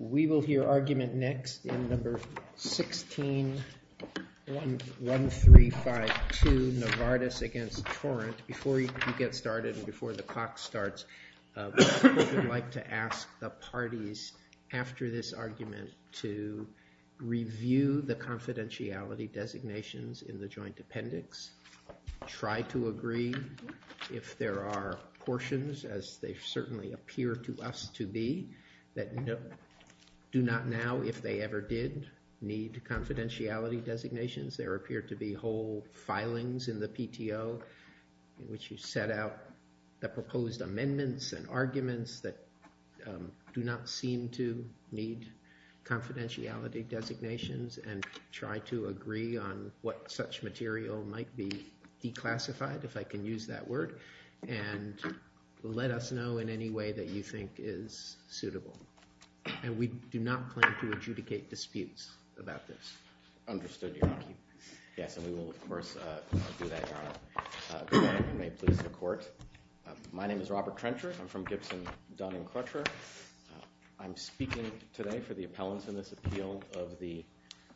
We will hear argument next in No. 16-1352, Novartis against Torrent. Before you get started and before the clock starts, I would like to ask the parties after this argument to review the confidentiality designations in the joint appendix, try to review our portions as they certainly appear to us to be, that do not now, if they ever did, need confidentiality designations. There appear to be whole filings in the PTO in which you set out the proposed amendments and arguments that do not seem to need confidentiality designations and try to agree on what such material might be declassified, if I can use that word, and let us know in any way that you think is suitable. And we do not plan to adjudicate disputes about this. Understood, Your Honor. Yes, and we will, of course, do that, Your Honor. Good morning, and may it please the Court. My name is Robert Trencher. I'm from Gibson, Dun and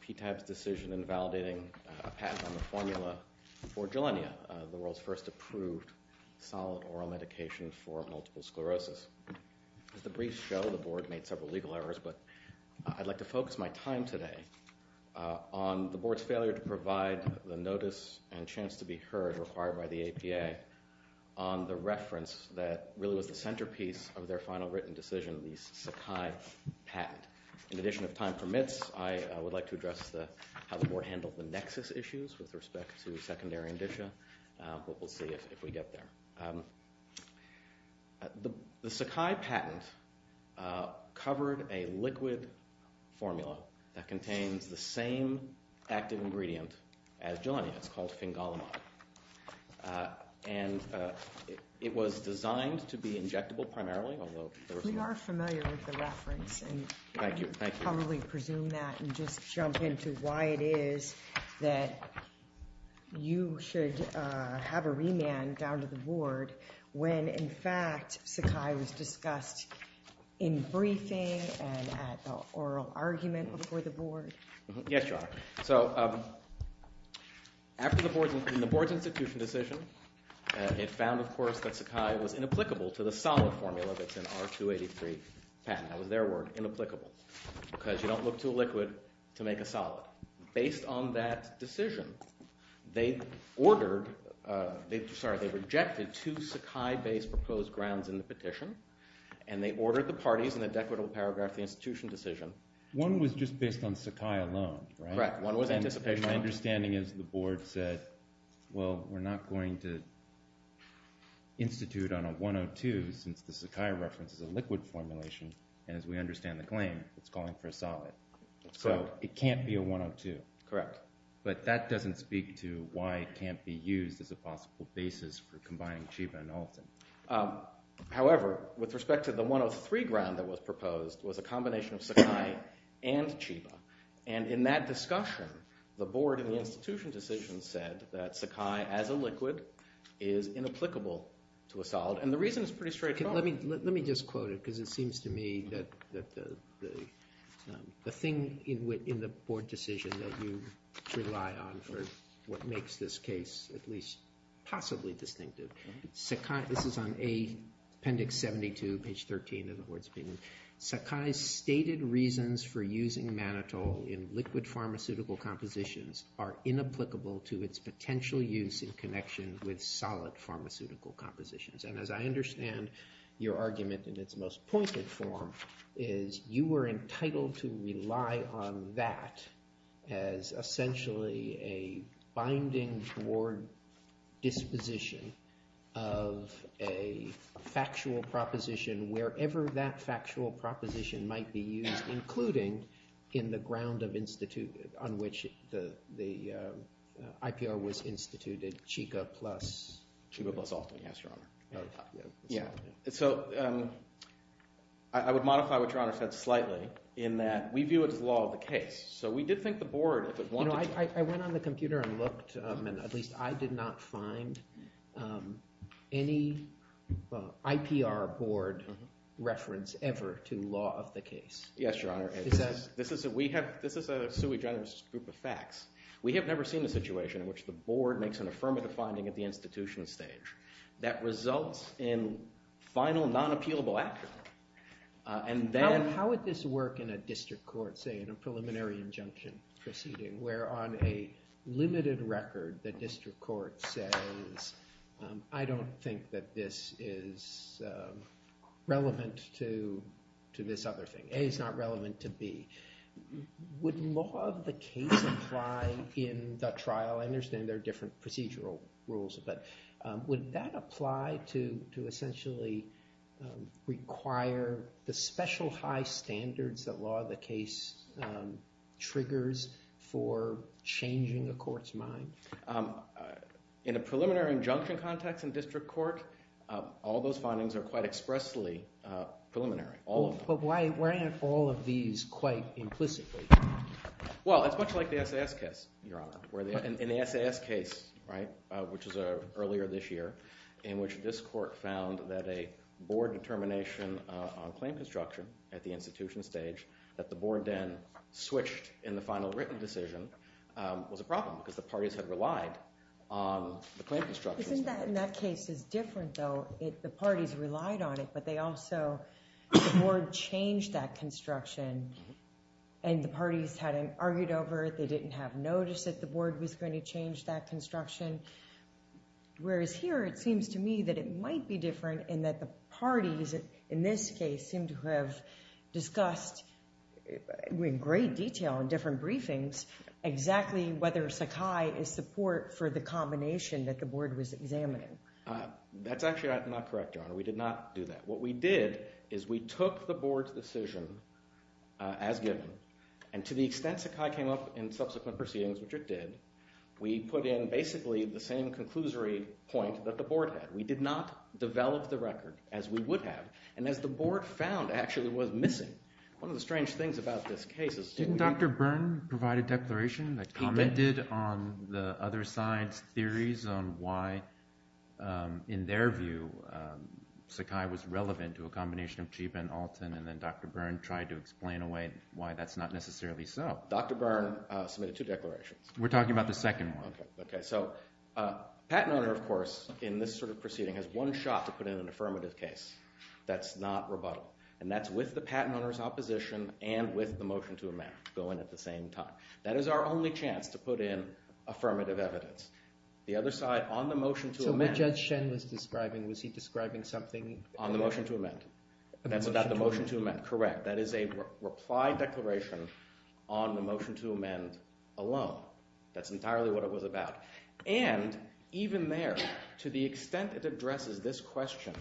PTAB's decision in validating a patent on the formula for Jelenia, the world's first approved solid oral medication for multiple sclerosis. As the briefs show, the Board made several legal errors, but I'd like to focus my time today on the Board's failure to provide the notice and chance to be heard required by the APA on the reference that really was the centerpiece of their final written decision, the Sakai patent. In addition, if time permits, I would like to address how the Board handled the nexus issues with respect to secondary indicia, but we'll see if we get there. The Sakai patent covered a liquid formula that contains the same active ingredient as Jelenia. It's called Fingolimod, and it was designed to be injectable primarily, although... We are familiar with the reference. Thank you. I'll really presume that and just jump into why it is that you should have a remand down to the Board when, in fact, Sakai was discussed in briefing and at the oral argument before the Board. Yes, Your Honor. So after the Board's institution decision, it found, of course, that Sakai was inapplicable to the solid formula that's in R-283 patent. That was their word, inapplicable, because you don't look to a liquid to make a solid. Based on that decision, they ordered... Sorry, they rejected two Sakai-based proposed grounds in the petition, and they ordered the parties in an equitable paragraph the institution decision. One was just based on Sakai alone, right? Right. One was anticipation. My understanding is the Board said, well, we're not going to institute on a 102 since the Sakai reference is a liquid formulation, and as we understand the claim, it's calling for a solid. So it can't be a 102. Correct. But that doesn't speak to why it can't be used as a possible basis for combining Chiba and Alton. However, with respect to the 103 ground that was proposed, it was a combination of Sakai and Chiba. And in that discussion, the Board in the institution decision said that Sakai as a liquid is inapplicable to a solid, and the reason is pretty straightforward. Let me just quote it, because it seems to me that the thing in the Board decision that you rely on for what makes this case at least possibly distinctive. This is on Appendix 72, page 13 of the Board's opinion. Sakai's stated reasons for using Manitoulin in liquid pharmaceutical compositions are inapplicable to its potential use in connection with solid pharmaceutical compositions. And as I understand your argument in its most pointed form is you were entitled to rely on that as essentially a binding Board disposition of a factual proposition wherever that factual proposition might be used, including in the ground on which the IPR was instituted, Chiba plus Alton. Chiba plus Alton, yes, Your Honor. So I would modify what Your Honor said slightly in that we view it as law of the case. So we did think the Board, if it wanted to— I went on the computer and looked, and at least I did not find any IPR Board reference ever to law of the case. Yes, Your Honor. This is a sui generis group of facts. We have never seen a situation in which the Board makes an affirmative finding at the institution stage that results in final non-appealable action. How would this work in a district court, say, in a preliminary injunction proceeding, where on a limited record the district court says, I don't think that this is relevant to this other thing. A is not relevant to B. Would law of the case apply in the trial? I understand there are different procedural rules, but would that apply to essentially require the special high standards that law of the case triggers for changing a court's mind? In a preliminary injunction context in district court, all those findings are quite expressly preliminary. But why aren't all of these quite implicitly? Well, it's much like the SAS case, Your Honor. In the SAS case, right, which was earlier this year, in which this court found that a Board determination on claim construction at the institution stage that the Board then switched in the final written decision was a problem because the parties had relied on the claim construction. Isn't that in that case is different, though? The parties relied on it, but they also – the Board changed that construction, and the parties had argued over it. They didn't have notice that the Board was going to change that construction, whereas here it seems to me that it might be different in that the parties in this case seem to have discussed in great detail in different briefings exactly whether Sakai is support for the combination that the Board was examining. That's actually not correct, Your Honor. We did not do that. What we did is we took the Board's decision as given, and to the extent Sakai came up in subsequent proceedings, which it did, we put in basically the same conclusory point that the Board had. We did not develop the record as we would have, and as the Board found actually was missing. One of the strange things about this case is – Didn't Dr. Byrne provide a declaration that – He did. He did on the other side's theories on why, in their view, Sakai was relevant to a combination of Chiba and Alton, and then Dr. Byrne tried to explain away why that's not necessarily so. Dr. Byrne submitted two declarations. We're talking about the second one. Okay, so the patent owner, of course, in this sort of proceeding, has one shot to put in an affirmative case that's not rebuttal, and that's with the patent owner's opposition and with the motion to amend going at the same time. That is our only chance to put in affirmative evidence. The other side, on the motion to amend – So what Judge Shen was describing, was he describing something – On the motion to amend. That's about the motion to amend, correct. That is a reply declaration on the motion to amend alone. That's entirely what it was about. And even there, to the extent it addresses this question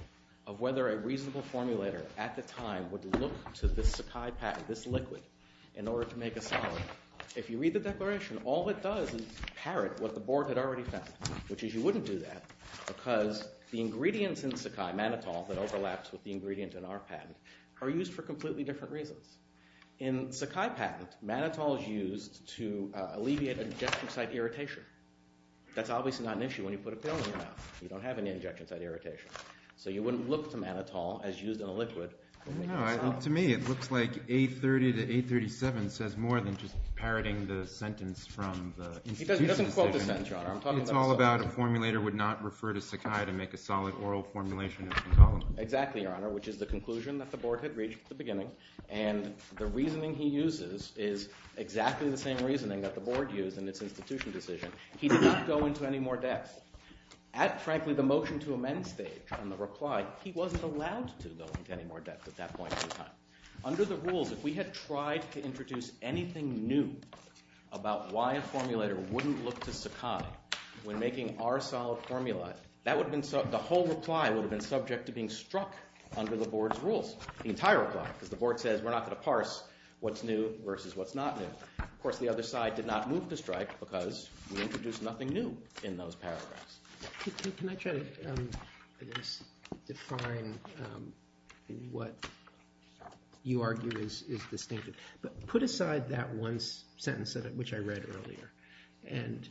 of whether a reasonable formulator at the time would look to this Sakai patent, this liquid, in order to make a solid, if you read the declaration, all it does is parrot what the board had already found, which is you wouldn't do that because the ingredients in Sakai, mannitol that overlaps with the ingredient in our patent, are used for completely different reasons. In Sakai patent, mannitol is used to alleviate injection site irritation. That's obviously not an issue when you put a pill in your mouth. You don't have any injection site irritation. So you wouldn't look to mannitol as used in a liquid to make a solid. No, to me it looks like 830 to 837 says more than just parroting the sentence from the institution decision. He doesn't quote the sentence, Your Honor. It's all about a formulator would not refer to Sakai to make a solid oral formulation of the column. Exactly, Your Honor, which is the conclusion that the board had reached at the beginning. And the reasoning he uses is exactly the same reasoning that the board used in its institution decision. He did not go into any more depth. At, frankly, the motion to amend stage on the reply, he wasn't allowed to go into any more depth at that point in time. Under the rules, if we had tried to introduce anything new about why a formulator wouldn't look to Sakai when making our solid formula, the whole reply would have been subject to being struck under the board's rules, the entire reply, because the board says we're not going to parse what's new versus what's not new. Of course, the other side did not move to strike because we introduced nothing new in those paragraphs. Can I try to define what you argue is distinctive? But put aside that one sentence, which I read earlier, and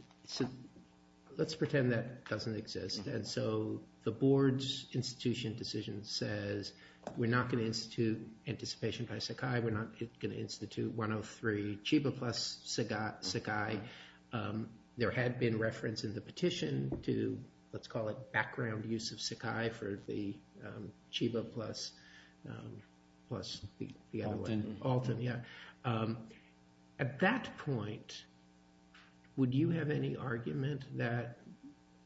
let's pretend that doesn't exist. And so the board's institution decision says we're not going to institute anticipation by Sakai. We're not going to institute 103 Chiba plus Sakai. There had been reference in the petition to, let's call it, background use of Sakai for the Chiba plus the other one. Alton. At that point, would you have any argument that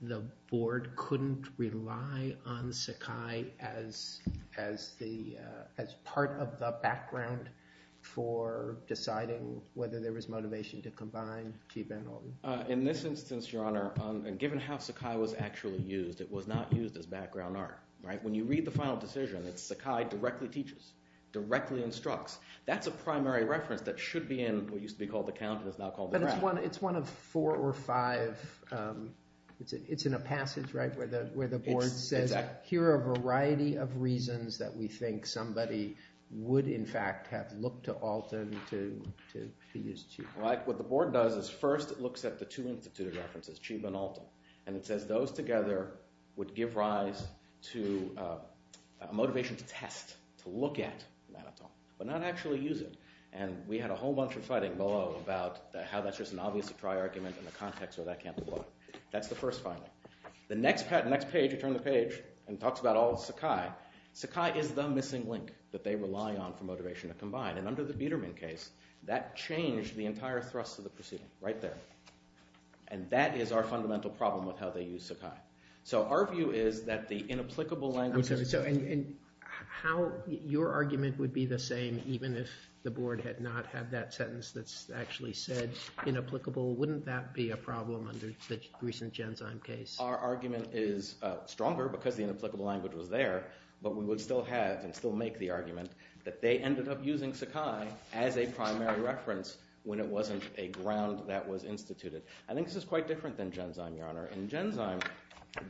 the board couldn't rely on Sakai as part of the background for deciding whether there was motivation to combine Chiba and Alton? In this instance, Your Honor, given how Sakai was actually used, it was not used as background art. When you read the final decision, it's Sakai directly teaches, directly instructs. That's a primary reference that should be in what used to be called the count and is now called the graph. But it's one of four or five. It's in a passage where the board says here are a variety of reasons that we think somebody would, in fact, have looked to Alton to use Chiba. What the board does is first it looks at the two instituted references, Chiba and Alton. And it says those together would give rise to a motivation to test, to look at, but not actually use it. And we had a whole bunch of fighting below about how that's just an obvious to try argument in the context where that can't apply. That's the first finding. The next page, we turn the page, and it talks about all of Sakai. Sakai is the missing link that they rely on for motivation to combine. And under the Biderman case, that changed the entire thrust of the proceeding right there. And that is our fundamental problem with how they use Sakai. So our view is that the inapplicable language... And how your argument would be the same even if the board had not had that sentence that's actually said inapplicable, wouldn't that be a problem under the recent Genzyme case? Our argument is stronger because the inapplicable language was there, but we would still have and still make the argument that they ended up using Sakai as a primary reference when it wasn't a ground that was instituted. I think this is quite different than Genzyme, Your Honor. In Genzyme,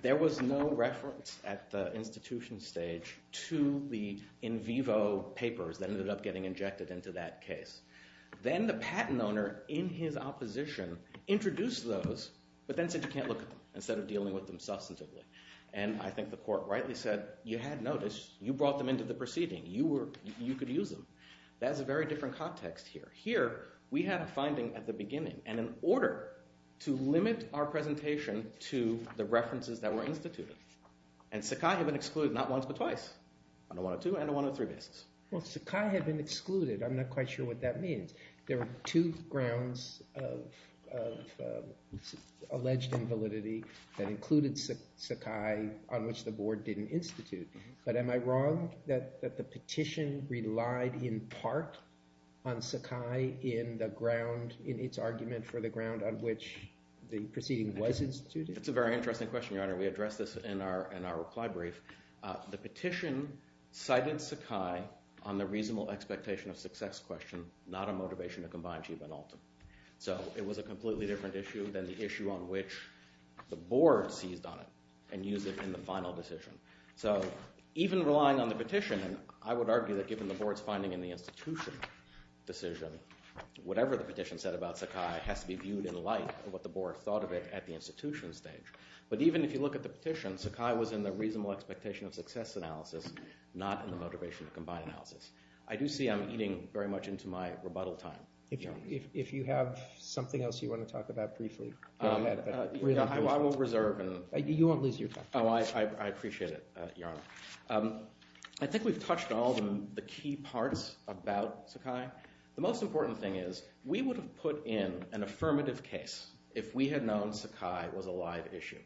there was no reference at the institution stage to the in vivo papers that ended up getting injected into that case. Then the patent owner, in his opposition, introduced those, but then said you can't look at them instead of dealing with them substantively. And I think the court rightly said, you had notice. You brought them into the proceeding. You could use them. That is a very different context here. Here, we had a finding at the beginning, and in order to limit our presentation to the references that were instituted, and Sakai had been excluded not once but twice, on a 102 and a 103 basis. Well, Sakai had been excluded. I'm not quite sure what that means. There are two grounds of alleged invalidity that included Sakai on which the board didn't institute. But am I wrong that the petition relied in part on Sakai in the ground, in its argument for the ground on which the proceeding was instituted? That's a very interesting question, Your Honor. We addressed this in our reply brief. The petition cited Sakai on the reasonable expectation of success question, not a motivation to combine Chiba and Alton. So it was a completely different issue than the issue on which the board seized on it and used it in the final decision. So even relying on the petition, I would argue that given the board's finding in the institution decision, whatever the petition said about Sakai has to be viewed in light of what the board thought of it at the institution stage. But even if you look at the petition, Sakai was in the reasonable expectation of success analysis, not in the motivation to combine analysis. I do see I'm eating very much into my rebuttal time. If you have something else you want to talk about briefly, go ahead. I will reserve. You won't lose your time. Oh, I appreciate it, Your Honor. I think we've touched on all the key parts about Sakai. The most important thing is we would have put in an affirmative case if we had known Sakai was a live issue.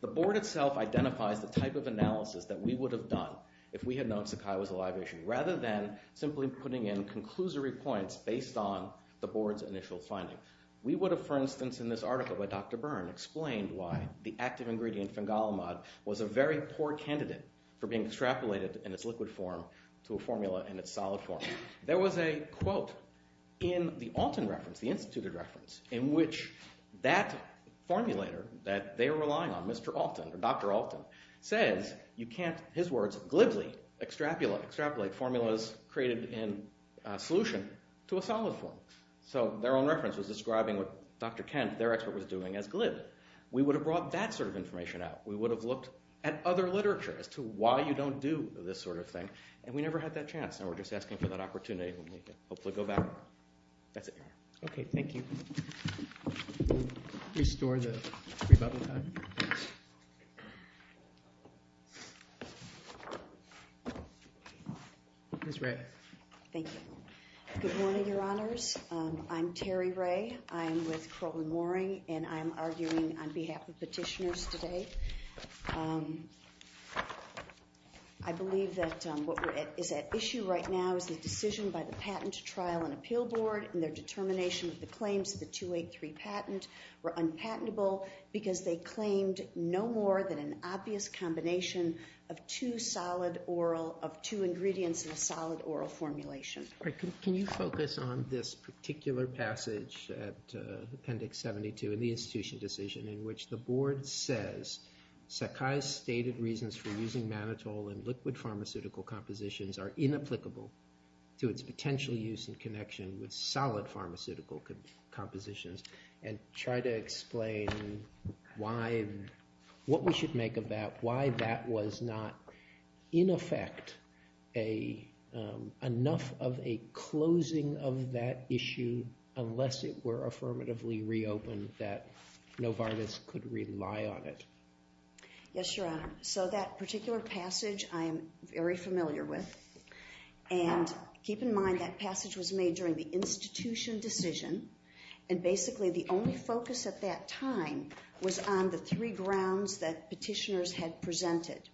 The board itself identifies the type of analysis that we would have done if we had known Sakai was a live issue, rather than simply putting in conclusory points based on the board's initial finding. We would have, for instance, in this article by Dr. Byrne, explained why the active ingredient fengalimod was a very poor candidate for being extrapolated in its liquid form to a formula in its solid form. There was a quote in the Alton reference, the instituted reference, in which that formulator that they were relying on, Mr. Alton or Dr. Alton, says you can't, his words, glibly extrapolate formulas created in a solution to a solid form. So their own reference was describing what Dr. Kent, their expert, was doing as glibly. We would have brought that sort of information out. We would have looked at other literature as to why you don't do this sort of thing, and we never had that chance, and we're just asking for that opportunity when we can hopefully go back. That's it, Your Honor. Okay, thank you. Restore the rebuttal time. Ms. Wray. Thank you. Good morning, Your Honors. I'm Terry Wray. I'm with Crowley-Mooring, and I'm arguing on behalf of petitioners today. I believe that what is at issue right now is the decision by the patent trial and appeal board and their determination of the claims of the 283 patent were unpatentable because they claimed no more than an obvious combination of two ingredients in a solid oral formulation. Can you focus on this particular passage at Appendix 72 in the institution decision in which the board says Sakai's stated reasons for using mannitol in liquid pharmaceutical compositions are inapplicable to its potential use in connection with solid pharmaceutical compositions, and try to explain what we should make of that, why that was not, in effect, enough of a closing of that issue unless it were affirmatively reopened that Novartis could rely on it? Yes, Your Honor. So that particular passage I am very familiar with, and keep in mind that passage was made during the institution decision, and basically the only focus at that time was on the three grounds that petitioners had presented.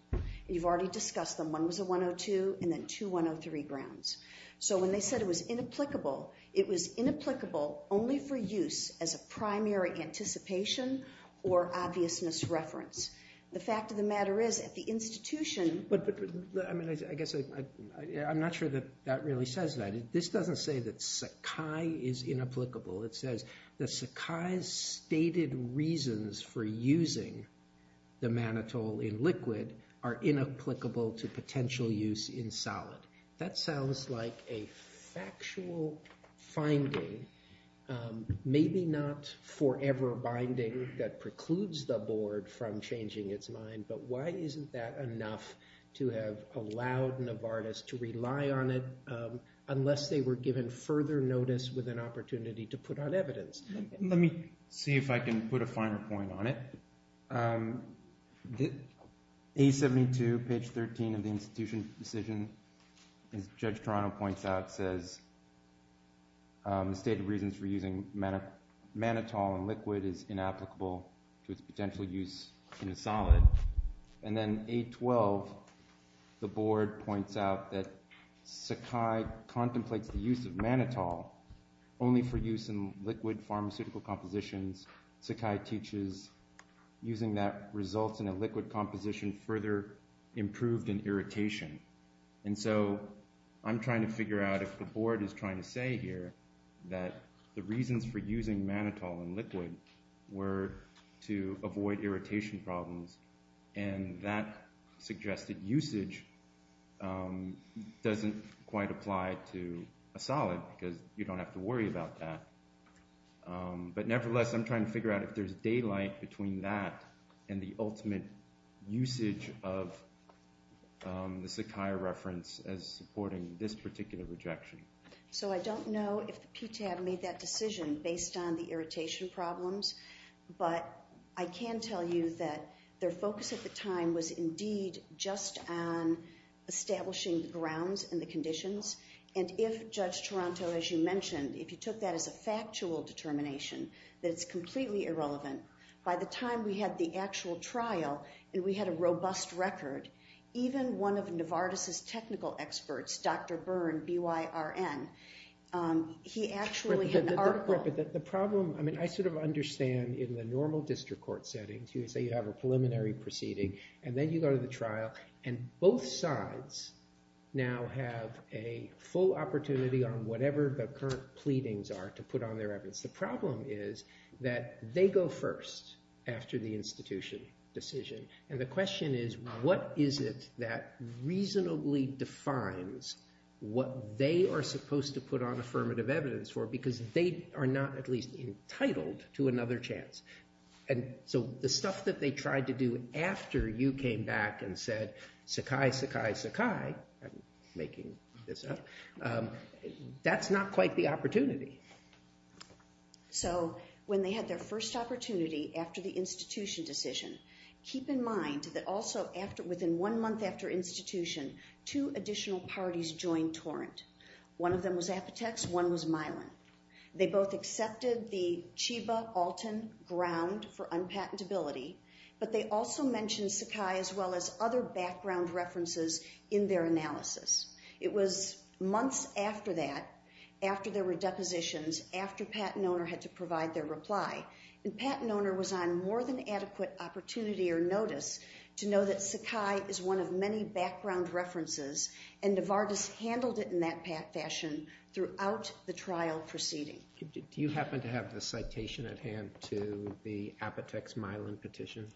You've already discussed them. One was a 102 and then two 103 grounds. So when they said it was inapplicable, it was inapplicable only for use as a primary anticipation or obviousness reference. The fact of the matter is at the institution – I guess I'm not sure that that really says that. This doesn't say that Sakai is inapplicable. It says that Sakai's stated reasons for using the mannitol in liquid are inapplicable to potential use in solid. That sounds like a factual finding, maybe not forever binding that precludes the board from changing its mind, but why isn't that enough to have allowed Novartis to rely on it unless they were given further notice with an opportunity to put on evidence? Let me see if I can put a finer point on it. A72, page 13 of the institution decision, as Judge Toronto points out, says the stated reasons for using mannitol in liquid is inapplicable to its potential use in a solid. And then A12, the board points out that Sakai contemplates the use of mannitol only for use in liquid pharmaceutical compositions. Sakai teaches using that results in a liquid composition further improved in irritation. And so I'm trying to figure out if the board is trying to say here that the reasons for using mannitol in liquid were to avoid irritation problems, and that suggested usage doesn't quite apply to a solid because you don't have to worry about that. But nevertheless, I'm trying to figure out if there's daylight between that and the ultimate usage of the Sakai reference as supporting this particular rejection. So I don't know if the PTAB made that decision based on the irritation problems, but I can tell you that their focus at the time was indeed just on establishing the grounds and the conditions. And if Judge Toronto, as you mentioned, if you took that as a factual determination that it's completely irrelevant, by the time we had the actual trial and we had a robust record, even one of Novartis's technical experts, Dr. Byrne, B-Y-R-N, he actually had an article. I sort of understand in the normal district court settings, you would say you have a preliminary proceeding, and then you go to the trial and both sides now have a full opportunity on whatever the current pleadings are to put on their evidence. The problem is that they go first after the institution decision. And the question is what is it that reasonably defines what they are supposed to put on affirmative evidence for because they are not at least entitled to another chance. And so the stuff that they tried to do after you came back and said Sakai, Sakai, Sakai, I'm making this up, that's not quite the opportunity. So when they had their first opportunity after the institution decision, keep in mind that also within one month after institution, two additional parties joined torrent. One of them was Apotex, one was Milan. They both accepted the Chiba-Alton ground for unpatentability, but they also mentioned Sakai as well as other background references in their analysis. It was months after that, after there were depositions, after patent owner had to provide their reply, and patent owner was on more than adequate opportunity or notice to know that Sakai is one of many background references and Novartis handled it in that fashion throughout the trial proceeding. Do you happen to have the citation at hand to the Apotex-Milan petition?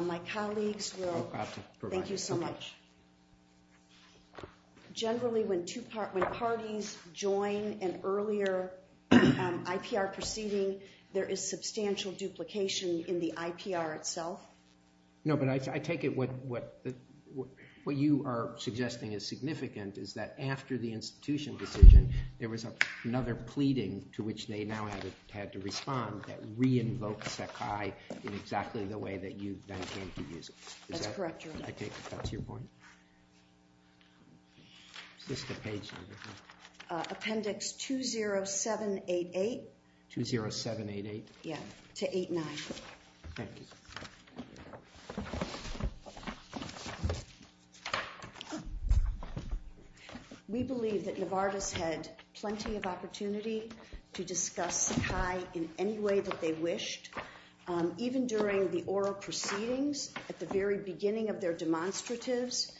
My colleagues will. Thank you so much. Generally when parties join an earlier IPR proceeding, there is substantial duplication in the IPR itself. No, but I take it what you are suggesting is significant is that after the institution decision, there was another pleading to which they now had to respond that re-invoked Sakai in exactly the way that you then came to use it. That's correct, Your Honor. That's your point? It's just a page number. Appendix 20788. 20788? Yeah, to 89. Thank you. We believe that Novartis had plenty of opportunity to discuss Sakai in any way that they wished. Even during the oral proceedings, at the very beginning of their demonstratives,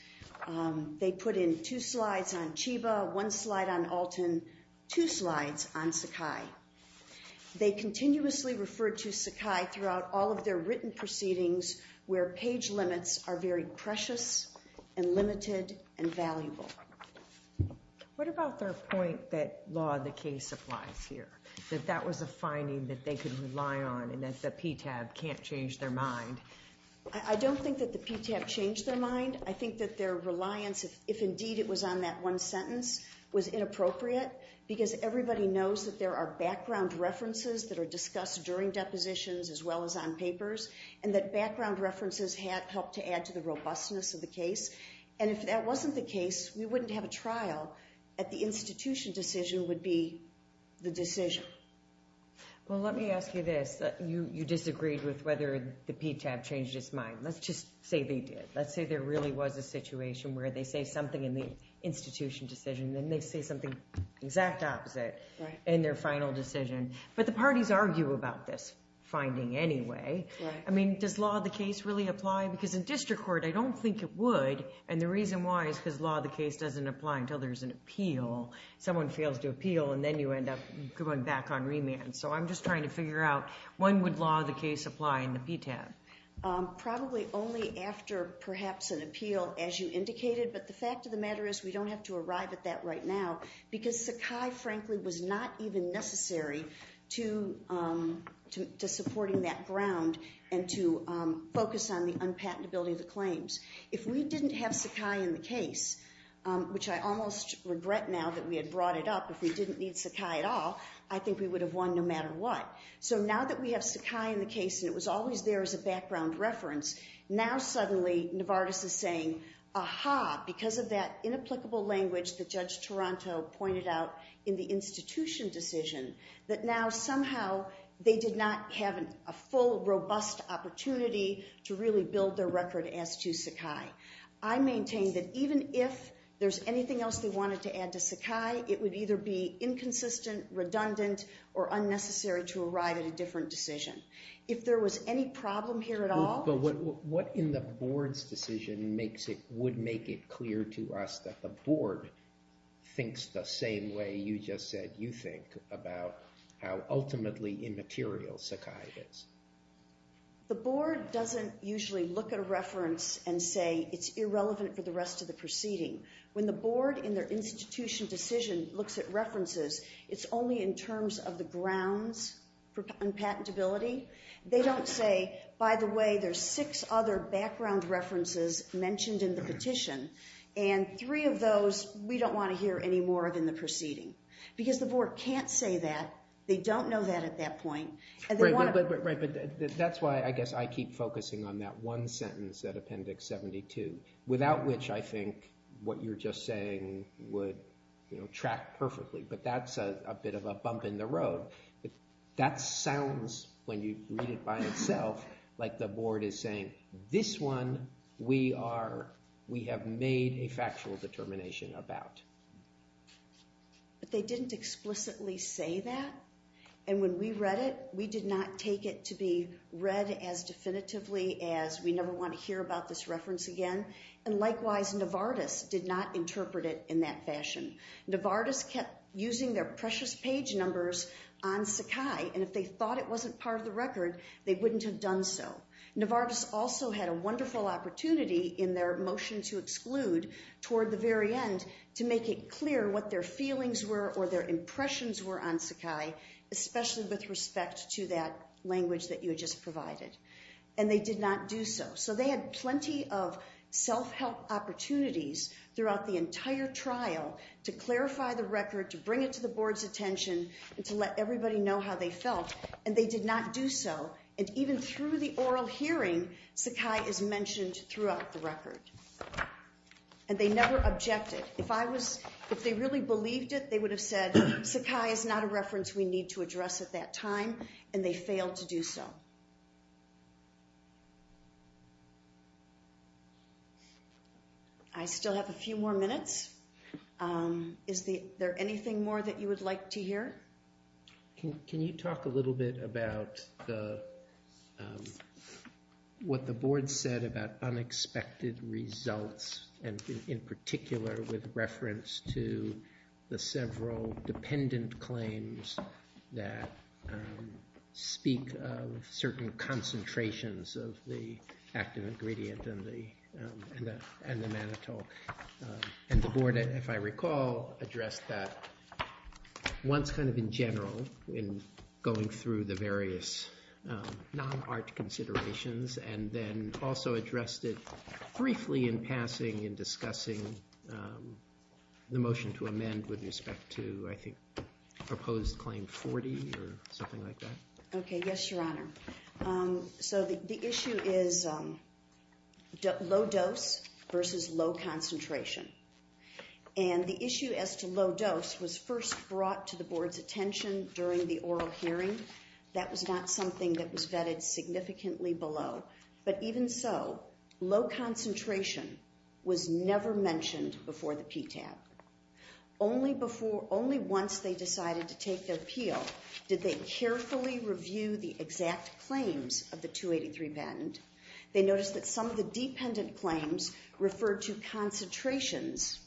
they put in two slides on Chiba, one slide on Alton, two slides on Sakai. They continuously referred to Sakai throughout all of their written proceedings where page limits are very precious and limited and valuable. What about their point that law and the case applies here, that that was a finding that they could rely on and that the PTAB can't change their mind? I don't think that the PTAB changed their mind. I think that their reliance, if indeed it was on that one sentence, was inappropriate because everybody knows that there are background references that are discussed during depositions as well as on papers and that background references help to add to the robustness of the case. And if that wasn't the case, we wouldn't have a trial that the institution decision would be the decision. Well, let me ask you this. You disagreed with whether the PTAB changed its mind. Let's just say they did. Let's say there really was a situation where they say something in the institution decision and they say something exact opposite in their final decision. But the parties argue about this finding anyway. I mean, does law and the case really apply? Because in district court, I don't think it would, and the reason why is because law and the case doesn't apply until there's an appeal. Someone fails to appeal, and then you end up going back on remand. So I'm just trying to figure out when would law and the case apply in the PTAB? Probably only after perhaps an appeal, as you indicated, but the fact of the matter is we don't have to arrive at that right now because Sakai, frankly, was not even necessary to supporting that ground and to focus on the unpatentability of the claims. If we didn't have Sakai in the case, which I almost regret now that we had brought it up, if we didn't need Sakai at all, I think we would have won no matter what. So now that we have Sakai in the case and it was always there as a background reference, now suddenly Novartis is saying, aha, because of that inapplicable language that Judge Toronto pointed out in the institution decision, that now somehow they did not have a full, robust opportunity to really build their record as to Sakai. I maintain that even if there's anything else they wanted to add to Sakai, it would either be inconsistent, redundant, or unnecessary to arrive at a different decision. If there was any problem here at all— But what in the board's decision would make it clear to us that the board thinks the same way you just said you think about how ultimately immaterial Sakai is? The board doesn't usually look at a reference and say it's irrelevant for the rest of the proceeding. When the board in their institution decision looks at references, it's only in terms of the grounds for unpatentability. They don't say, by the way, there's six other background references mentioned in the petition, and three of those we don't want to hear any more of in the proceeding. Because the board can't say that. They don't know that at that point. Right, but that's why I guess I keep focusing on that one sentence at Appendix 72, without which I think what you're just saying would track perfectly. But that's a bit of a bump in the road. That sounds, when you read it by itself, like the board is saying, this one we have made a factual determination about. But they didn't explicitly say that, and when we read it, we did not take it to be read as definitively as we never want to hear about this reference again. And likewise, Novartis did not interpret it in that fashion. Novartis kept using their precious page numbers on Sakai, and if they thought it wasn't part of the record, they wouldn't have done so. Novartis also had a wonderful opportunity in their motion to exclude toward the very end to make it clear what their feelings were or their impressions were on Sakai, especially with respect to that language that you had just provided. And they did not do so. So they had plenty of self-help opportunities throughout the entire trial to clarify the record, to bring it to the board's attention, and to let everybody know how they felt, and they did not do so. And even through the oral hearing, Sakai is mentioned throughout the record. And they never objected. If they really believed it, they would have said Sakai is not a reference we need to address at that time, and they failed to do so. I still have a few more minutes. Is there anything more that you would like to hear? Can you talk a little bit about what the board said about unexpected results, and in particular with reference to the several dependent claims that speak of certain concentrations of the active ingredient and the mannitol? And the board, if I recall, addressed that once kind of in general in going through the various non-art considerations and then also addressed it briefly in passing in discussing the motion to amend with respect to, I think, proposed claim 40 or something like that? Okay, yes, Your Honor. So the issue is low dose versus low concentration. And the issue as to low dose was first brought to the board's attention during the oral hearing. That was not something that was vetted significantly below. But even so, low concentration was never mentioned before the PTAB. Only once they decided to take their appeal did they carefully review the exact claims of the 283 patent. They noticed that some of the dependent claims referred to concentrations,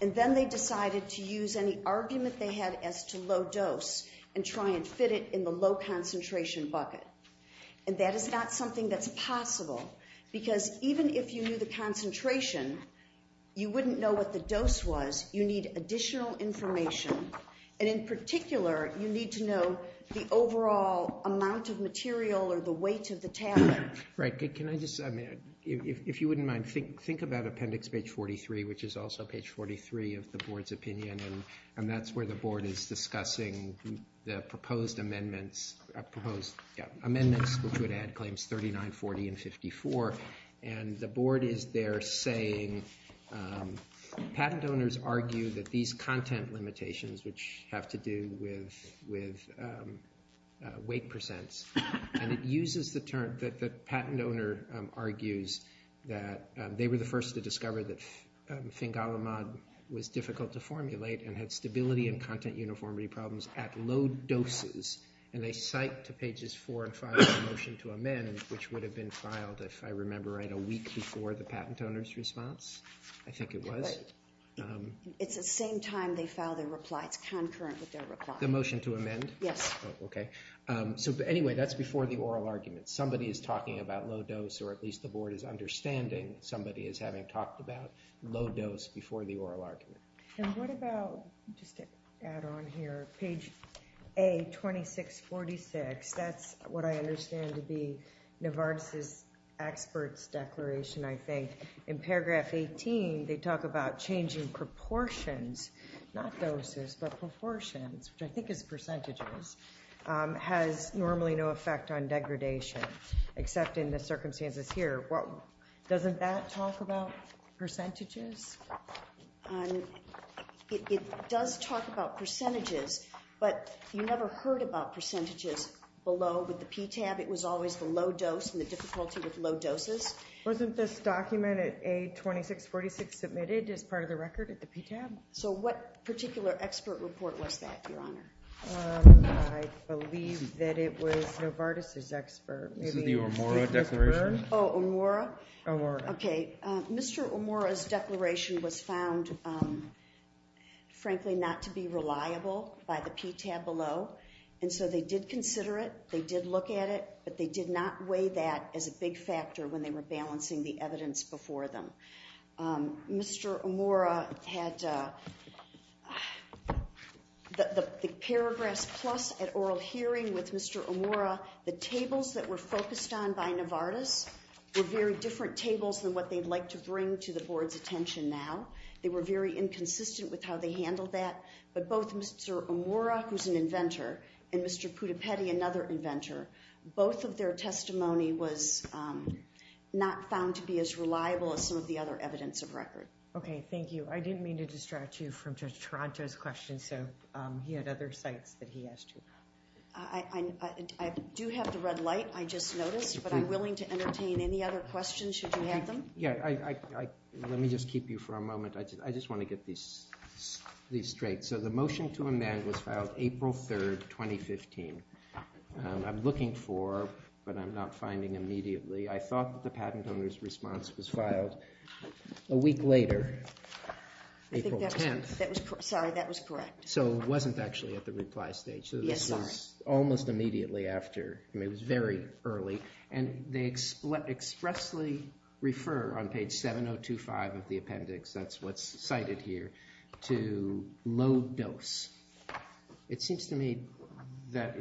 and then they decided to use any argument they had as to low dose and try and fit it in the low concentration bucket. And that is not something that's possible, because even if you knew the concentration, you wouldn't know what the dose was. You need additional information, and in particular, you need to know the overall amount of material or the weight of the tablet. Right. Can I just, I mean, if you wouldn't mind, think about appendix page 43, which is also page 43 of the board's opinion, and that's where the board is discussing the proposed amendments, which would add claims 39, 40, and 54. And the board is there saying patent owners argue that these content limitations, which have to do with weight percents, and it uses the term that the patent owner argues that they were the first to discover that Fingalimod was difficult to formulate and had stability and content uniformity problems at low doses, and they cite to pages 4 and 5 the motion to amend, which would have been filed, if I remember right, a week before the patent owner's response. I think it was. It's the same time they filed their reply. It's concurrent with their reply. The motion to amend? Yes. Okay. So anyway, that's before the oral argument. Somebody is talking about low dose, or at least the board is understanding that somebody is having talked about low dose before the oral argument. And what about, just to add on here, page A2646, that's what I understand to be Novartis' expert's declaration, I think. In paragraph 18, they talk about changing proportions, not doses, but proportions, which I think is percentages, has normally no effect on degradation, except in the circumstances here. Doesn't that talk about percentages? It does talk about percentages, but you never heard about percentages below with the PTAB. It was always the low dose and the difficulty with low doses. Wasn't this document at A2646 submitted as part of the record at the PTAB? So what particular expert report was that, Your Honor? I believe that it was Novartis' expert. This is the Omura declaration? Oh, Omura? Omura. Okay. Mr. Omura's declaration was found, frankly, not to be reliable by the PTAB below, and so they did consider it. They did look at it, but they did not weigh that as a big factor when they were balancing the evidence before them. Mr. Omura had the Paragraphs Plus at oral hearing with Mr. Omura. The tables that were focused on by Novartis were very different tables than what they'd like to bring to the Board's attention now. They were very inconsistent with how they handled that, but both Mr. Omura, who's an inventor, and Mr. Pudipedi, another inventor, both of their testimony was not found to be as reliable as some of the other evidence of record. Okay. Thank you. I didn't mean to distract you from Judge Taranto's question, so he had other sites that he asked you about. I do have the red light, I just noticed, but I'm willing to entertain any other questions should you have them. Yeah. Let me just keep you for a moment. I just want to get these straight. So the motion to amend was filed April 3, 2015. I'm looking for, but I'm not finding immediately. I thought that the patent owner's response was filed a week later, April 10th. I think that was correct. Sorry, that was correct. So it wasn't actually at the reply stage. Yes, sorry. Almost immediately after. I mean, it was very early. And they expressly refer on page 7025 of the appendix, that's what's cited here, to low dose. It seems to me that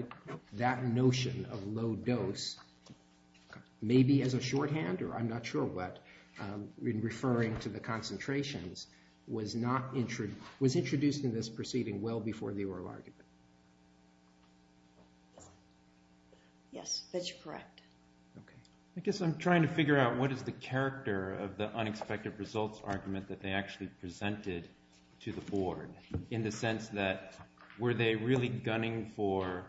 that notion of low dose, maybe as a shorthand or I'm not sure what, in referring to the concentrations, was introduced in this proceeding well before the oral argument. Yes, that's correct. Okay. I guess I'm trying to figure out what is the character of the unexpected results argument that they actually presented to the board in the sense that were they really gunning for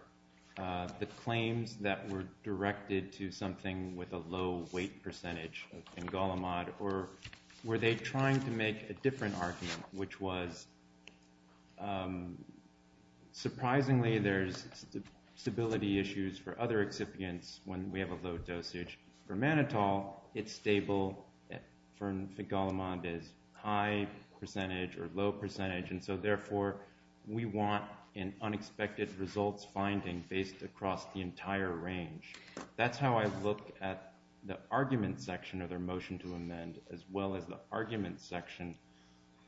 the claims that were directed to something with a low weight percentage of fingolimod or were they trying to make a different argument, which was surprisingly there's stability issues for other excipients when we have a low dosage. For mannitol, it's stable. For fingolimod, it's high percentage or low percentage. And so therefore, we want an unexpected results finding based across the entire range. That's how I look at the argument section of their motion to amend as well as the argument section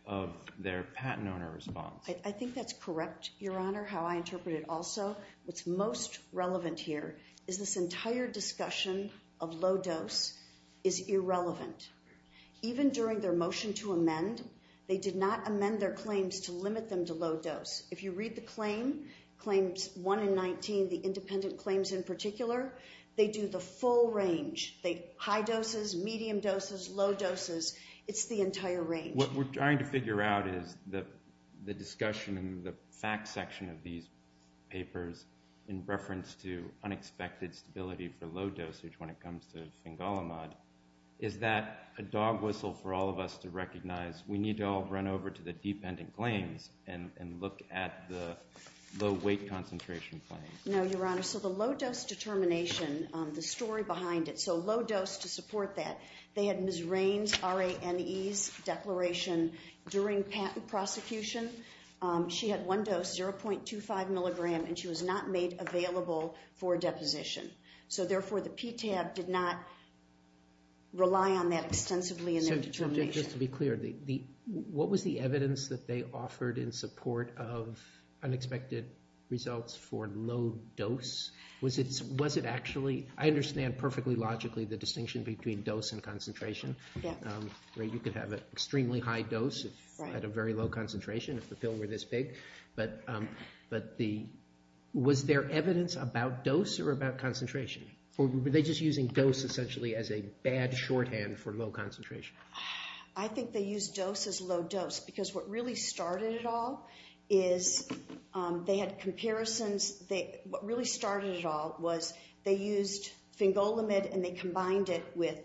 of their patent owner response. I think that's correct, Your Honor, how I interpret it also. What's most relevant here is this entire discussion of low dose is irrelevant. Even during their motion to amend, they did not amend their claims to limit them to low dose. If you read the claim, claims 1 and 19, the independent claims in particular, they do the full range, high doses, medium doses, low doses. It's the entire range. What we're trying to figure out is the discussion and the fact section of these papers in reference to unexpected stability for low dosage when it comes to fingolimod is that a dog whistle for all of us to recognize we need to all run over to the dependent claims and look at the low weight concentration claims. No, Your Honor. So the low dose determination, the story behind it, so low dose to support that, they had Ms. Raine's, R-A-N-E's declaration during patent prosecution. She had one dose, 0.25 milligram, and she was not made available for deposition. So therefore, the PTAB did not rely on that extensively in their determination. Object, just to be clear, what was the evidence that they offered in support of unexpected results for low dose? Was it actually, I understand perfectly logically the distinction between dose and concentration. You could have an extremely high dose at a very low concentration if the pill were this big, but was there evidence about dose or about concentration? Or were they just using dose essentially as a bad shorthand for low concentration? I think they used dose as low dose because what really started it all is they had comparisons. What really started it all was they used fingolimod and they combined it with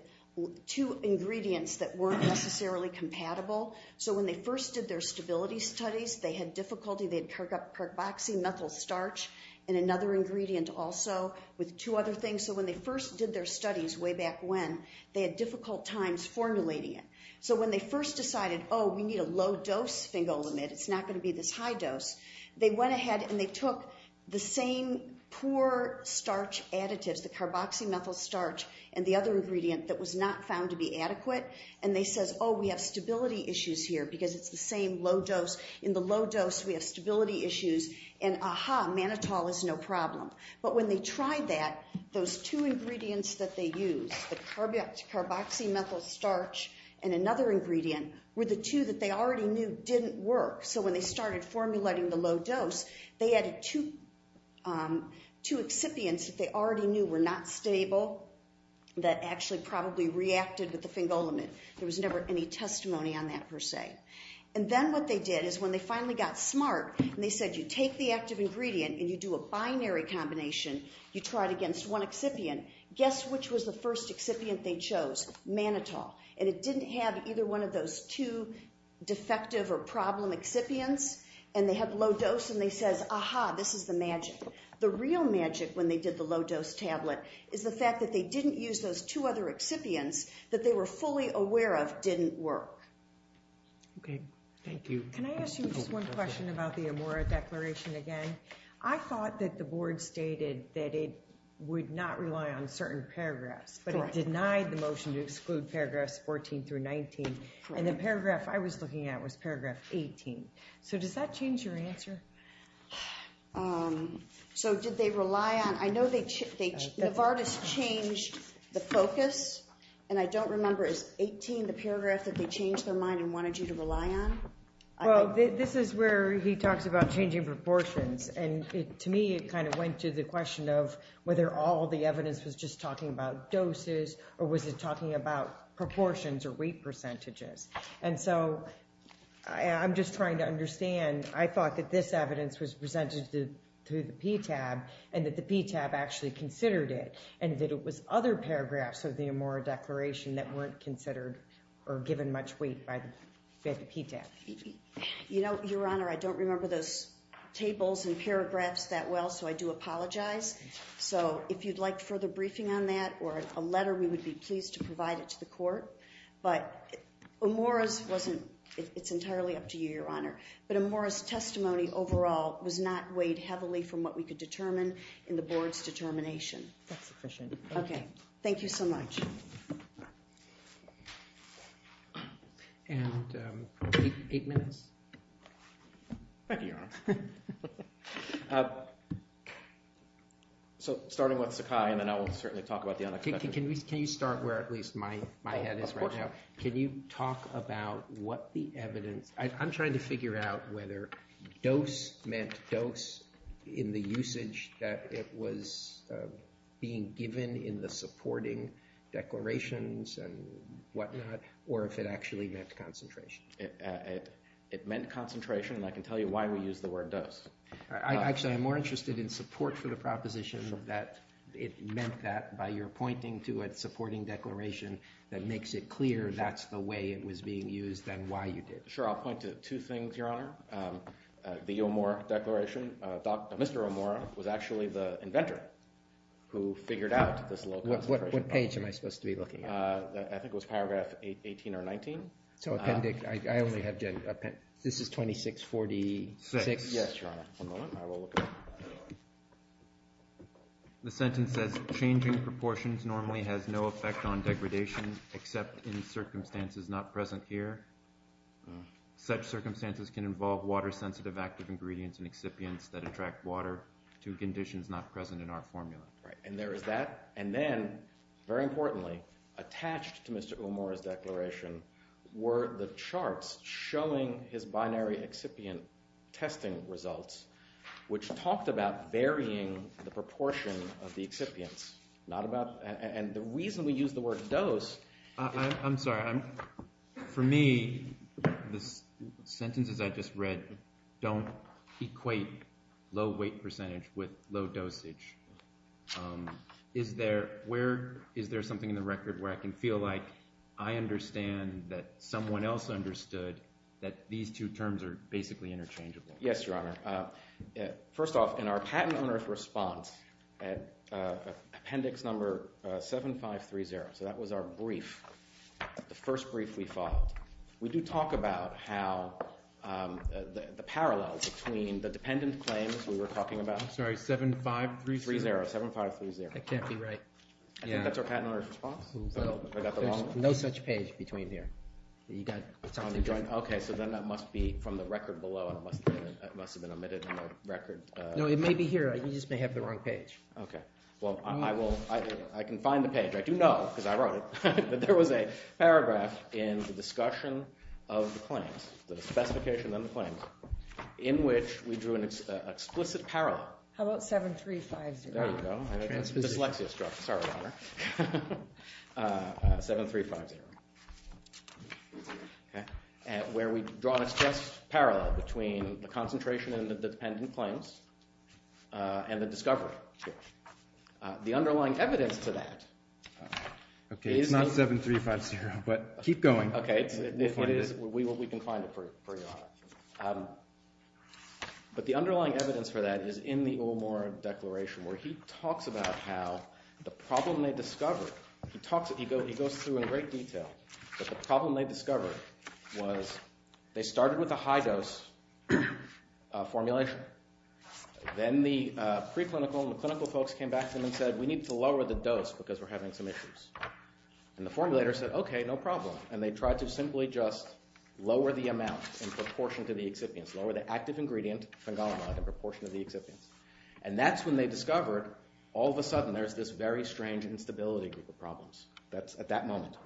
two ingredients that weren't necessarily compatible. So when they first did their stability studies, they had difficulty. They had carboxymethyl starch and another ingredient also with two other things. So when they first did their studies way back when, they had difficult times formulating it. So when they first decided, oh, we need a low dose fingolimod, it's not going to be this high dose, they went ahead and they took the same poor starch additives, the carboxymethyl starch and the other ingredient that was not found to be adequate, and they says, oh, we have stability issues here because it's the same low dose. In the low dose, we have stability issues, and aha, mannitol is no problem. But when they tried that, those two ingredients that they used, the carboxymethyl starch and another ingredient, were the two that they already knew didn't work. So when they started formulating the low dose, they added two excipients that they already knew were not stable that actually probably reacted with the fingolimod. There was never any testimony on that per se. And then what they did is when they finally got smart and they said you take the active ingredient and you do a binary combination, you try it against one excipient, guess which was the first excipient they chose? Mannitol. And it didn't have either one of those two defective or problem excipients, and they had low dose and they says, aha, this is the magic. The real magic when they did the low dose tablet is the fact that they didn't use those two other excipients that they were fully aware of didn't work. Okay, thank you. Can I ask you just one question about the Amora Declaration again? I thought that the board stated that it would not rely on certain paragraphs, but it denied the motion to exclude paragraphs 14 through 19, and the paragraph I was looking at was paragraph 18. So does that change your answer? So did they rely on, I know they, Novartis changed the focus, and I don't remember, is 18 the paragraph that they changed their mind and wanted you to rely on? Well, this is where he talks about changing proportions, and to me it kind of went to the question of whether all the evidence was just talking about doses or was it talking about proportions or weight percentages. And so I'm just trying to understand. I thought that this evidence was presented through the PTAB and that the PTAB actually considered it and that it was other paragraphs of the Amora Declaration that weren't considered or given much weight by the PTAB. You know, Your Honor, I don't remember those tables and paragraphs that well, so I do apologize. So if you'd like further briefing on that or a letter, we would be pleased to provide it to the court. But Amora's wasn't, it's entirely up to you, Your Honor. But Amora's testimony overall was not weighed heavily That's sufficient. Thank you. Thank you so much. And eight minutes? Thank you, Your Honor. So starting with Sakai, and then I will certainly talk about the unexpected. Can you start where at least my head is right now? Of course. Can you talk about what the evidence... I'm trying to figure out whether dose meant dose in the usage that it was being given in the supporting declarations and whatnot, or if it actually meant concentration? It meant concentration, and I can tell you why we use the word dose. Actually, I'm more interested in support for the proposition that it meant that by your pointing to a supporting declaration that makes it clear that's the way it was being used than why you did it. Sure, I'll point to two things, Your Honor. The Amora Declaration. Mr. Amora was actually the inventor who figured out this low concentration. What page am I supposed to be looking at? I think it was paragraph 18 or 19. So appendix... I only have... This is 2646? Yes, Your Honor. One moment. I will look at it. The sentence says, Changing proportions normally has no effect on degradation except in circumstances not present here. Such circumstances can involve water-sensitive active ingredients and excipients that attract water to conditions not present in our formula. Right, and there is that. And then, very importantly, attached to Mr. Amora's declaration were the charts showing his binary excipient testing results, which talked about varying the proportion of the excipients. And the reason we use the word dose... I'm sorry. For me, the sentences I just read don't equate low weight percentage with low dosage. Is there something in the record where I can feel like I understand that someone else understood that these two terms are basically interchangeable? Yes, Your Honor. First off, in our patent owner's response at appendix number 7530, so that was our brief, the first brief we followed, we do talk about how the parallels between the dependent claims we were talking about... I'm sorry, 7530? 7530. That can't be right. I think that's our patent owner's response. I got the wrong one. There's no such page between here. You got something different. Okay, so then that must be from the record below, and it must have been omitted in the record. No, it may be here. You just may have the wrong page. Okay, well, I can find the page. I do know, because I wrote it, that there was a paragraph in the discussion of the claims, the specification of the claims, in which we drew an explicit parallel. How about 7350? There you go. Dyslexia struck. Sorry, Your Honor. 7350. Where we draw an explicit parallel between the concentration in the dependent claims and the discovery. The underlying evidence to that... Okay, it's not 7350, but keep going. Okay, we can find it for you, Your Honor. But the underlying evidence for that is in the Ole Moore Declaration, where he talks about how the problem they discovered... He goes through in great detail, but the problem they discovered was they started with a high-dose formulation. Then the preclinical and the clinical folks came back to him and said, we need to lower the dose because we're having some issues. And the formulator said, okay, no problem. And they tried to simply just lower the amount in proportion to the excipients, lower the active ingredient, phengolamide, in proportion to the excipients. And that's when they discovered, all of a sudden, there's this very strange instability group of problems at that moment.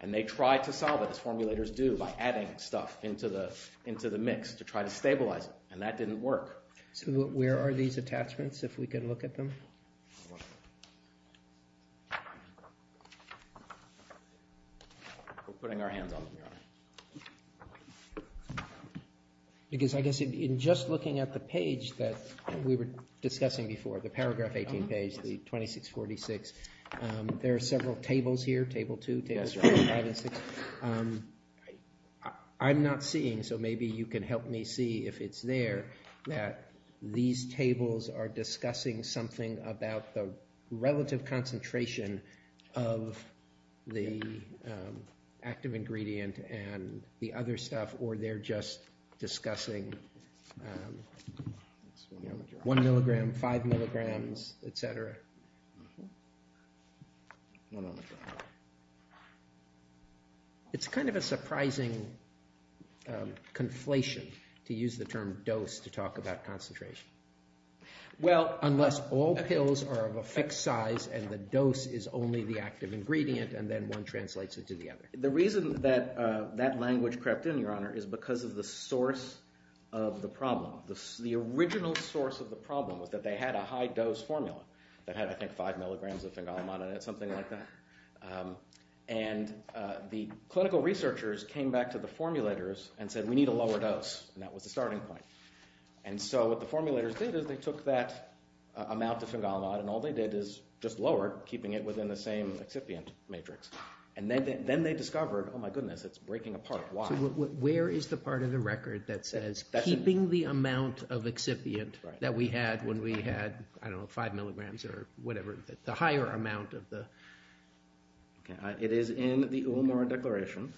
And they tried to solve it, as formulators do, by adding stuff into the mix to try to stabilize it. And that didn't work. So where are these attachments, if we can look at them? We're putting our hands on the mirror. Because I guess in just looking at the page that we were discussing before, the paragraph 18 page, the 2646, there are several tables here, table two, table five and six. I'm not seeing, so maybe you can help me see if it's there, that these tables are discussing something about the relative concentration of the active ingredient and the other stuff, or they're just discussing one milligram, five milligrams, et cetera. It's kind of a surprising conflation to use the term dose to talk about concentration. Unless all pills are of a fixed size and the dose is only the active ingredient and then one translates it to the other. The reason that that language crept in, Your Honor, is because of the source of the problem. The original source of the problem was that they had a high-dose formula that had, I think, five milligrams of phengalmon and something like that. And the clinical researchers came back to the formulators and said, we need a lower dose. And that was the starting point. And so what the formulators did is they took that amount of phengalmon and all they did is just lower it, keeping it within the same excipient matrix. And then they discovered, oh my goodness, it's breaking apart. Why? Where is the part of the record that says keeping the amount of excipient that we had when we had, I don't know, five milligrams or whatever, the higher amount of the... It is in the Ulmer Declaration.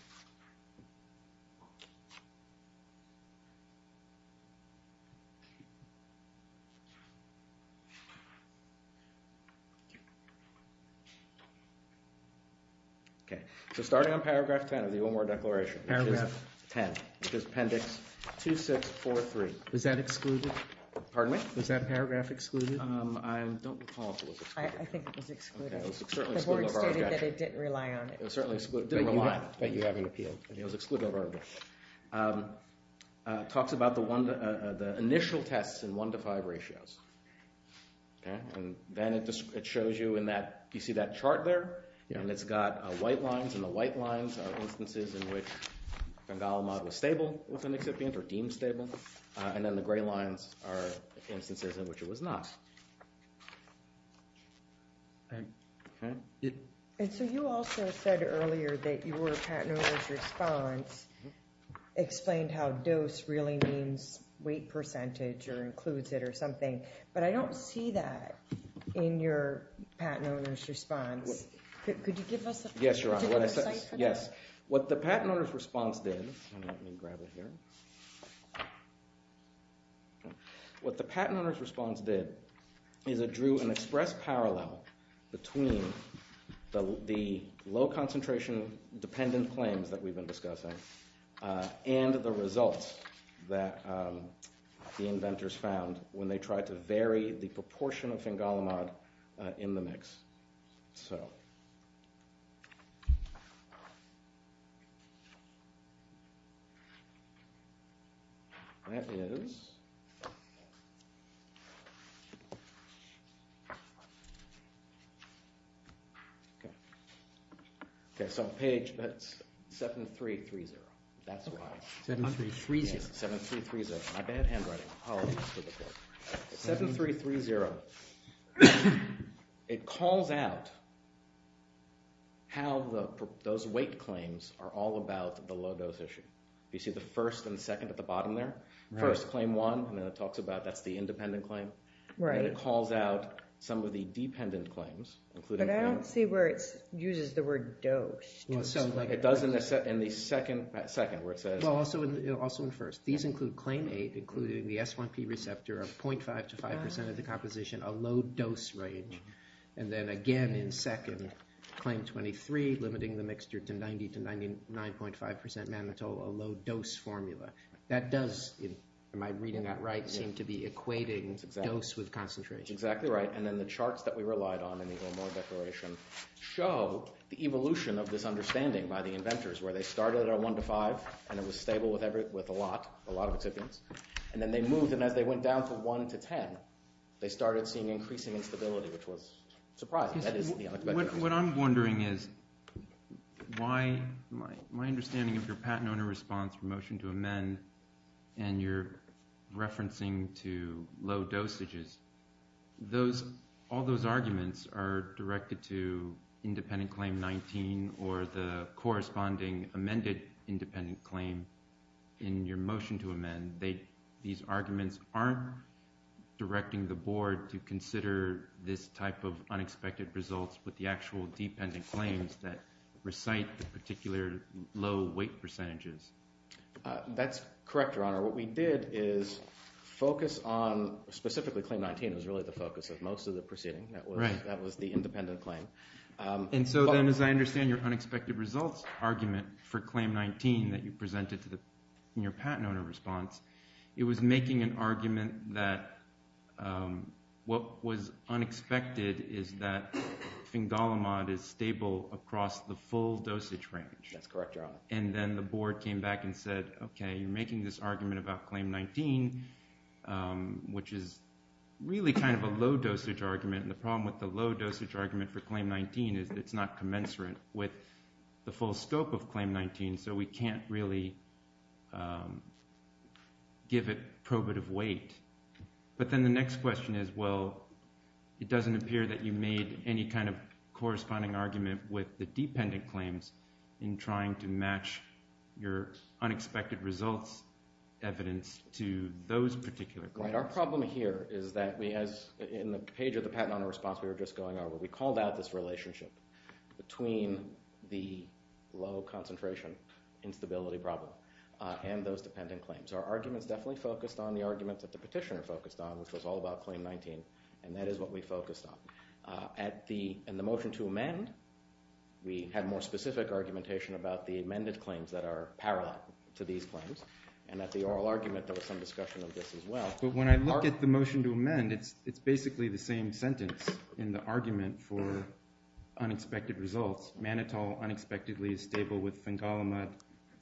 Okay. Okay. So starting on paragraph 10 of the Ulmer Declaration. Paragraph 10. Which is appendix 2643. Was that excluded? Pardon me? Was that paragraph excluded? I don't recall if it was excluded. I think it was excluded. It was certainly excluded. The board stated that it didn't rely on it. It was certainly excluded. Didn't rely on it. But you haven't appealed. It was excluded. It talks about the initial tests in one to five ratios. And then it shows you in that, you see that chart there? And it's got white lines and the white lines are instances in which phengalmon was stable within the excipient or deemed stable. And then the gray lines are instances in which it was not. And so you also said earlier that your patent owner's response explained how dose really means weight percentage or includes it or something. But I don't see that in your patent owner's response. Could you give us a picture? Yes, Your Honor. Yes. What the patent owner's response did, let me grab it here. What the patent owner's response did is it drew an express parallel between the low concentration dependent claims that we've been discussing and the results that the inventors found when they tried to vary the proportion of phengalmon in the mix. That is... Okay. Okay, so page... That's 7-3-3-0. That's why. 7-3-3-0. Yes, 7-3-3-0. My bad handwriting. Apologies to the court. 7-3-3-0. It calls out how those weight claims are all about the low dose issue. You see the first and second at the bottom there? First, claim one, and then it talks about that's the independent claim. Right. Then it calls out some of the dependent claims, including... But I don't see where it uses the word dose to explain it. It does in the second, where it says... Well, also in first. These include claim eight, including the S1P receptor of 0.5 to 5% of the composition, a low dose range. And then again in second, claim 23, limiting the mixture to 90 to 99.5% mannitol, a low dose formula. That does, am I reading that right, seem to be equating dose with concentration. Exactly right. And then the charts that we relied on in the O'Moore Declaration show the evolution of this understanding by the inventors, where they started at a 1 to 5, and it was stable with a lot, a lot of excipients. And then they moved, and as they went down to 1 to 10, they started seeing increasing instability, which was surprising. That is the unexpected. What I'm wondering is why my understanding of your patent owner response for motion to amend and your referencing to low dosages, those, all those arguments are directed to independent claim 19 or the corresponding amended independent claim in your motion to amend. They, these arguments aren't directing the board to consider this type of unexpected results with the actual dependent claims that recite the particular low weight percentages. That's correct, Your Honor. What we did is focus on specifically claim 19 was really the focus of most of the proceeding. Right. That was the independent claim. And so then, as I understand your unexpected results argument for claim 19 that you presented to the, in your patent owner response, that what was unexpected is that Fingolimod is stable across the full dosage range. That's correct, Your Honor. And then the board came back and said, okay, you're making this argument about claim 19, which is really kind of a low dosage argument. And the problem with the low dosage argument for claim 19 is it's not commensurate with the full scope of claim 19. So we can't really give it probative weight. But then the next question is, well, it doesn't appear that you made any kind of corresponding argument with the dependent claims in trying to match your unexpected results evidence to those particular claims. Right. Our problem here is that we, as in the page of the patent owner response we were just going over, we called out this relationship between the low concentration instability problem and those dependent claims. Our arguments definitely focused on the arguments that the petitioner focused on, which was all about claim 19. And that is what we focused on. At the, in the motion to amend, we had more specific argumentation about the amended claims that are parallel to these claims. And at the oral argument, there was some discussion of this as well. But when I look at the motion to amend, it's basically the same sentence in the argument for unexpected results. Manitoulin unexpectedly is stable with fengalimate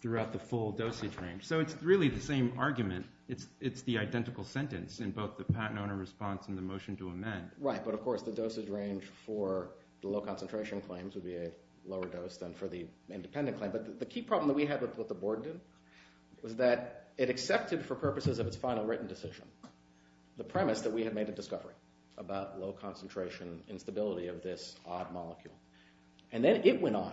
throughout the full dosage range. So it's really the same argument. It's the identical sentence in both the patent owner response and the motion to amend. Right. But of course, the dosage range for the low concentration claims would be a lower dose than for the independent claim. But the key problem that we had with what the board did was that it accepted for purposes of its final written decision the premise that we had made a discovery about low concentration instability of this odd molecule. And then it went on.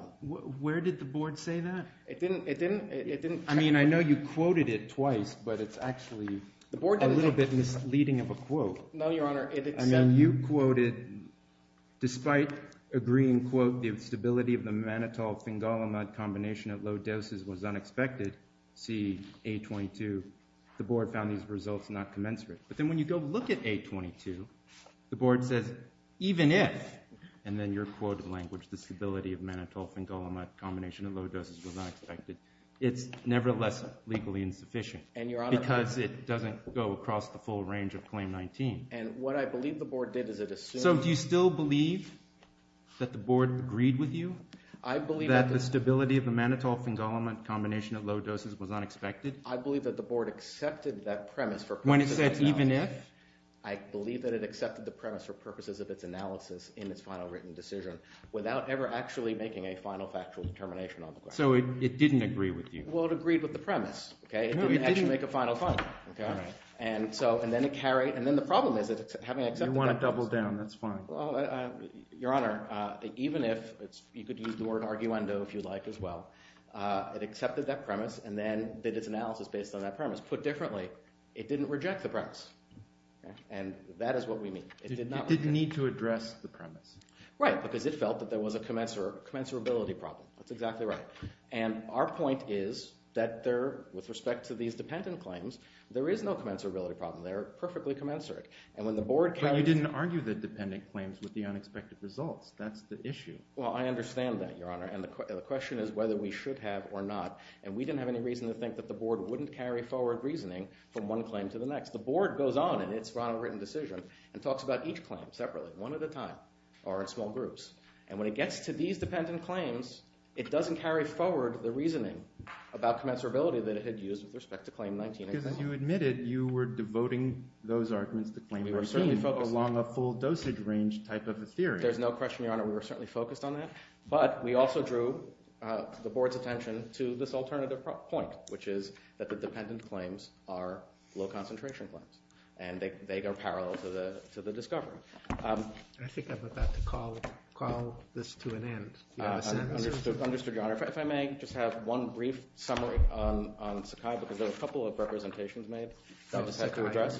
Where did the board say that? It didn't, it didn't, it didn't. I mean, I know you quoted it twice, but it's actually a little bit misleading of a quote. No, Your Honor, I mean, you quoted, despite agreeing, quote, the stability of the mannitol-fengalimate combination at low doses was unexpected. See, A22, the board found these results not commensurate. But then when you go look at A22, the board says, even if, and then your quoted language, the stability of mannitol-fengalimate combination at low doses was unexpected, it's nevertheless legally insufficient. And Your Honor. Because it doesn't go across the full range of Claim 19. And what I believe the board did is it assumed. So, do you still believe that the board agreed with you? I believe that. That the stability of the mannitol-fengalimate combination at low doses was unexpected? I believe that the board accepted that premise for purposes of its analysis. When it said, even if? I believe that it accepted the premise for purposes of its analysis in its final written decision without ever actually making a final factual determination on the question. So, it didn't agree with you? Well, it agreed with the premise. No, you didn't. It didn't actually make a final final. And so, and then it carried, and then the problem is having accepted that. You want to double down, that's fine. Well, Your Honor, even if, you could use the word arguendo if you'd like as well, it accepted that premise and then did its analysis based on that premise. Put differently, it didn't reject the premise. And that is what we mean. It did not reject it. It didn't need to address the premise. Right, because it felt that there was a commensurability problem. That's exactly right. And our point is that there, with respect to these dependent claims, there is no commensurability problem. They're perfectly commensurate. And when the board came... But you didn't argue the dependent claims with the unexpected results. That's the issue. Well, I understand that, Your Honor. And the question is whether we should have or not. And we didn't have any reason to think that the board wouldn't carry forward reasoning from one claim to the next. The board goes on in its final written decision and talks about each claim separately, one at a time or in small groups. And when it gets to these dependent claims, it doesn't carry forward the reasoning about commensurability that it had used with respect to Claim 19. Because you admitted you were devoting those arguments to Claim 19 along a full-dosage range type of a theory. There's no question, Your Honor. We were certainly focused on that. But we also drew the board's attention to this alternative point, which is that the dependent claims are low-concentration claims. And they go parallel to the discovery. I think I'm about to call this to an end. Do you have a sentence? Understood, Your Honor. If I may, just a second. I just have one brief summary on Sakai because there were a couple of representations made that I just had to address.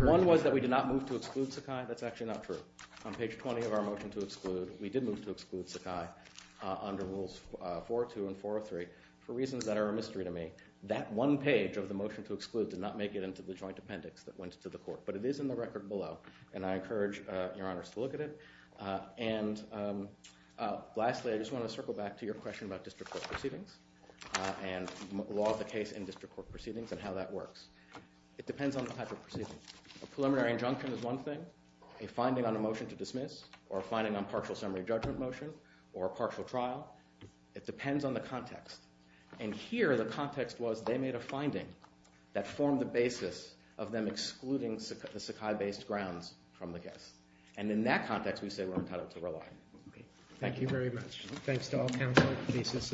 One was that we did not move to exclude Sakai. That's actually not true. On page 20 of our motion to exclude, we did move to exclude Sakai under Rules 4.2 and 4.3 for reasons that are a mystery to me. That one page of the motion to exclude did not make it into the joint appendix that went to the court. But it is in the record below. And I encourage Your Honors to look at it. And lastly, I just want to circle back to your question about district court proceedings and the law of the case in district court proceedings and how that works. It depends on the type of proceedings. A preliminary injunction is one thing. A finding on a motion to dismiss or a finding on partial summary judgment motion or a partial trial. It depends on the context. And here, the context was they made a finding that formed the basis of them excluding the Sakai-based grounds from the guests. And in that context, we say we're entitled to rely. Thank you very much. Thanks to all counsel. Thank you. Thank you. The case is submitted.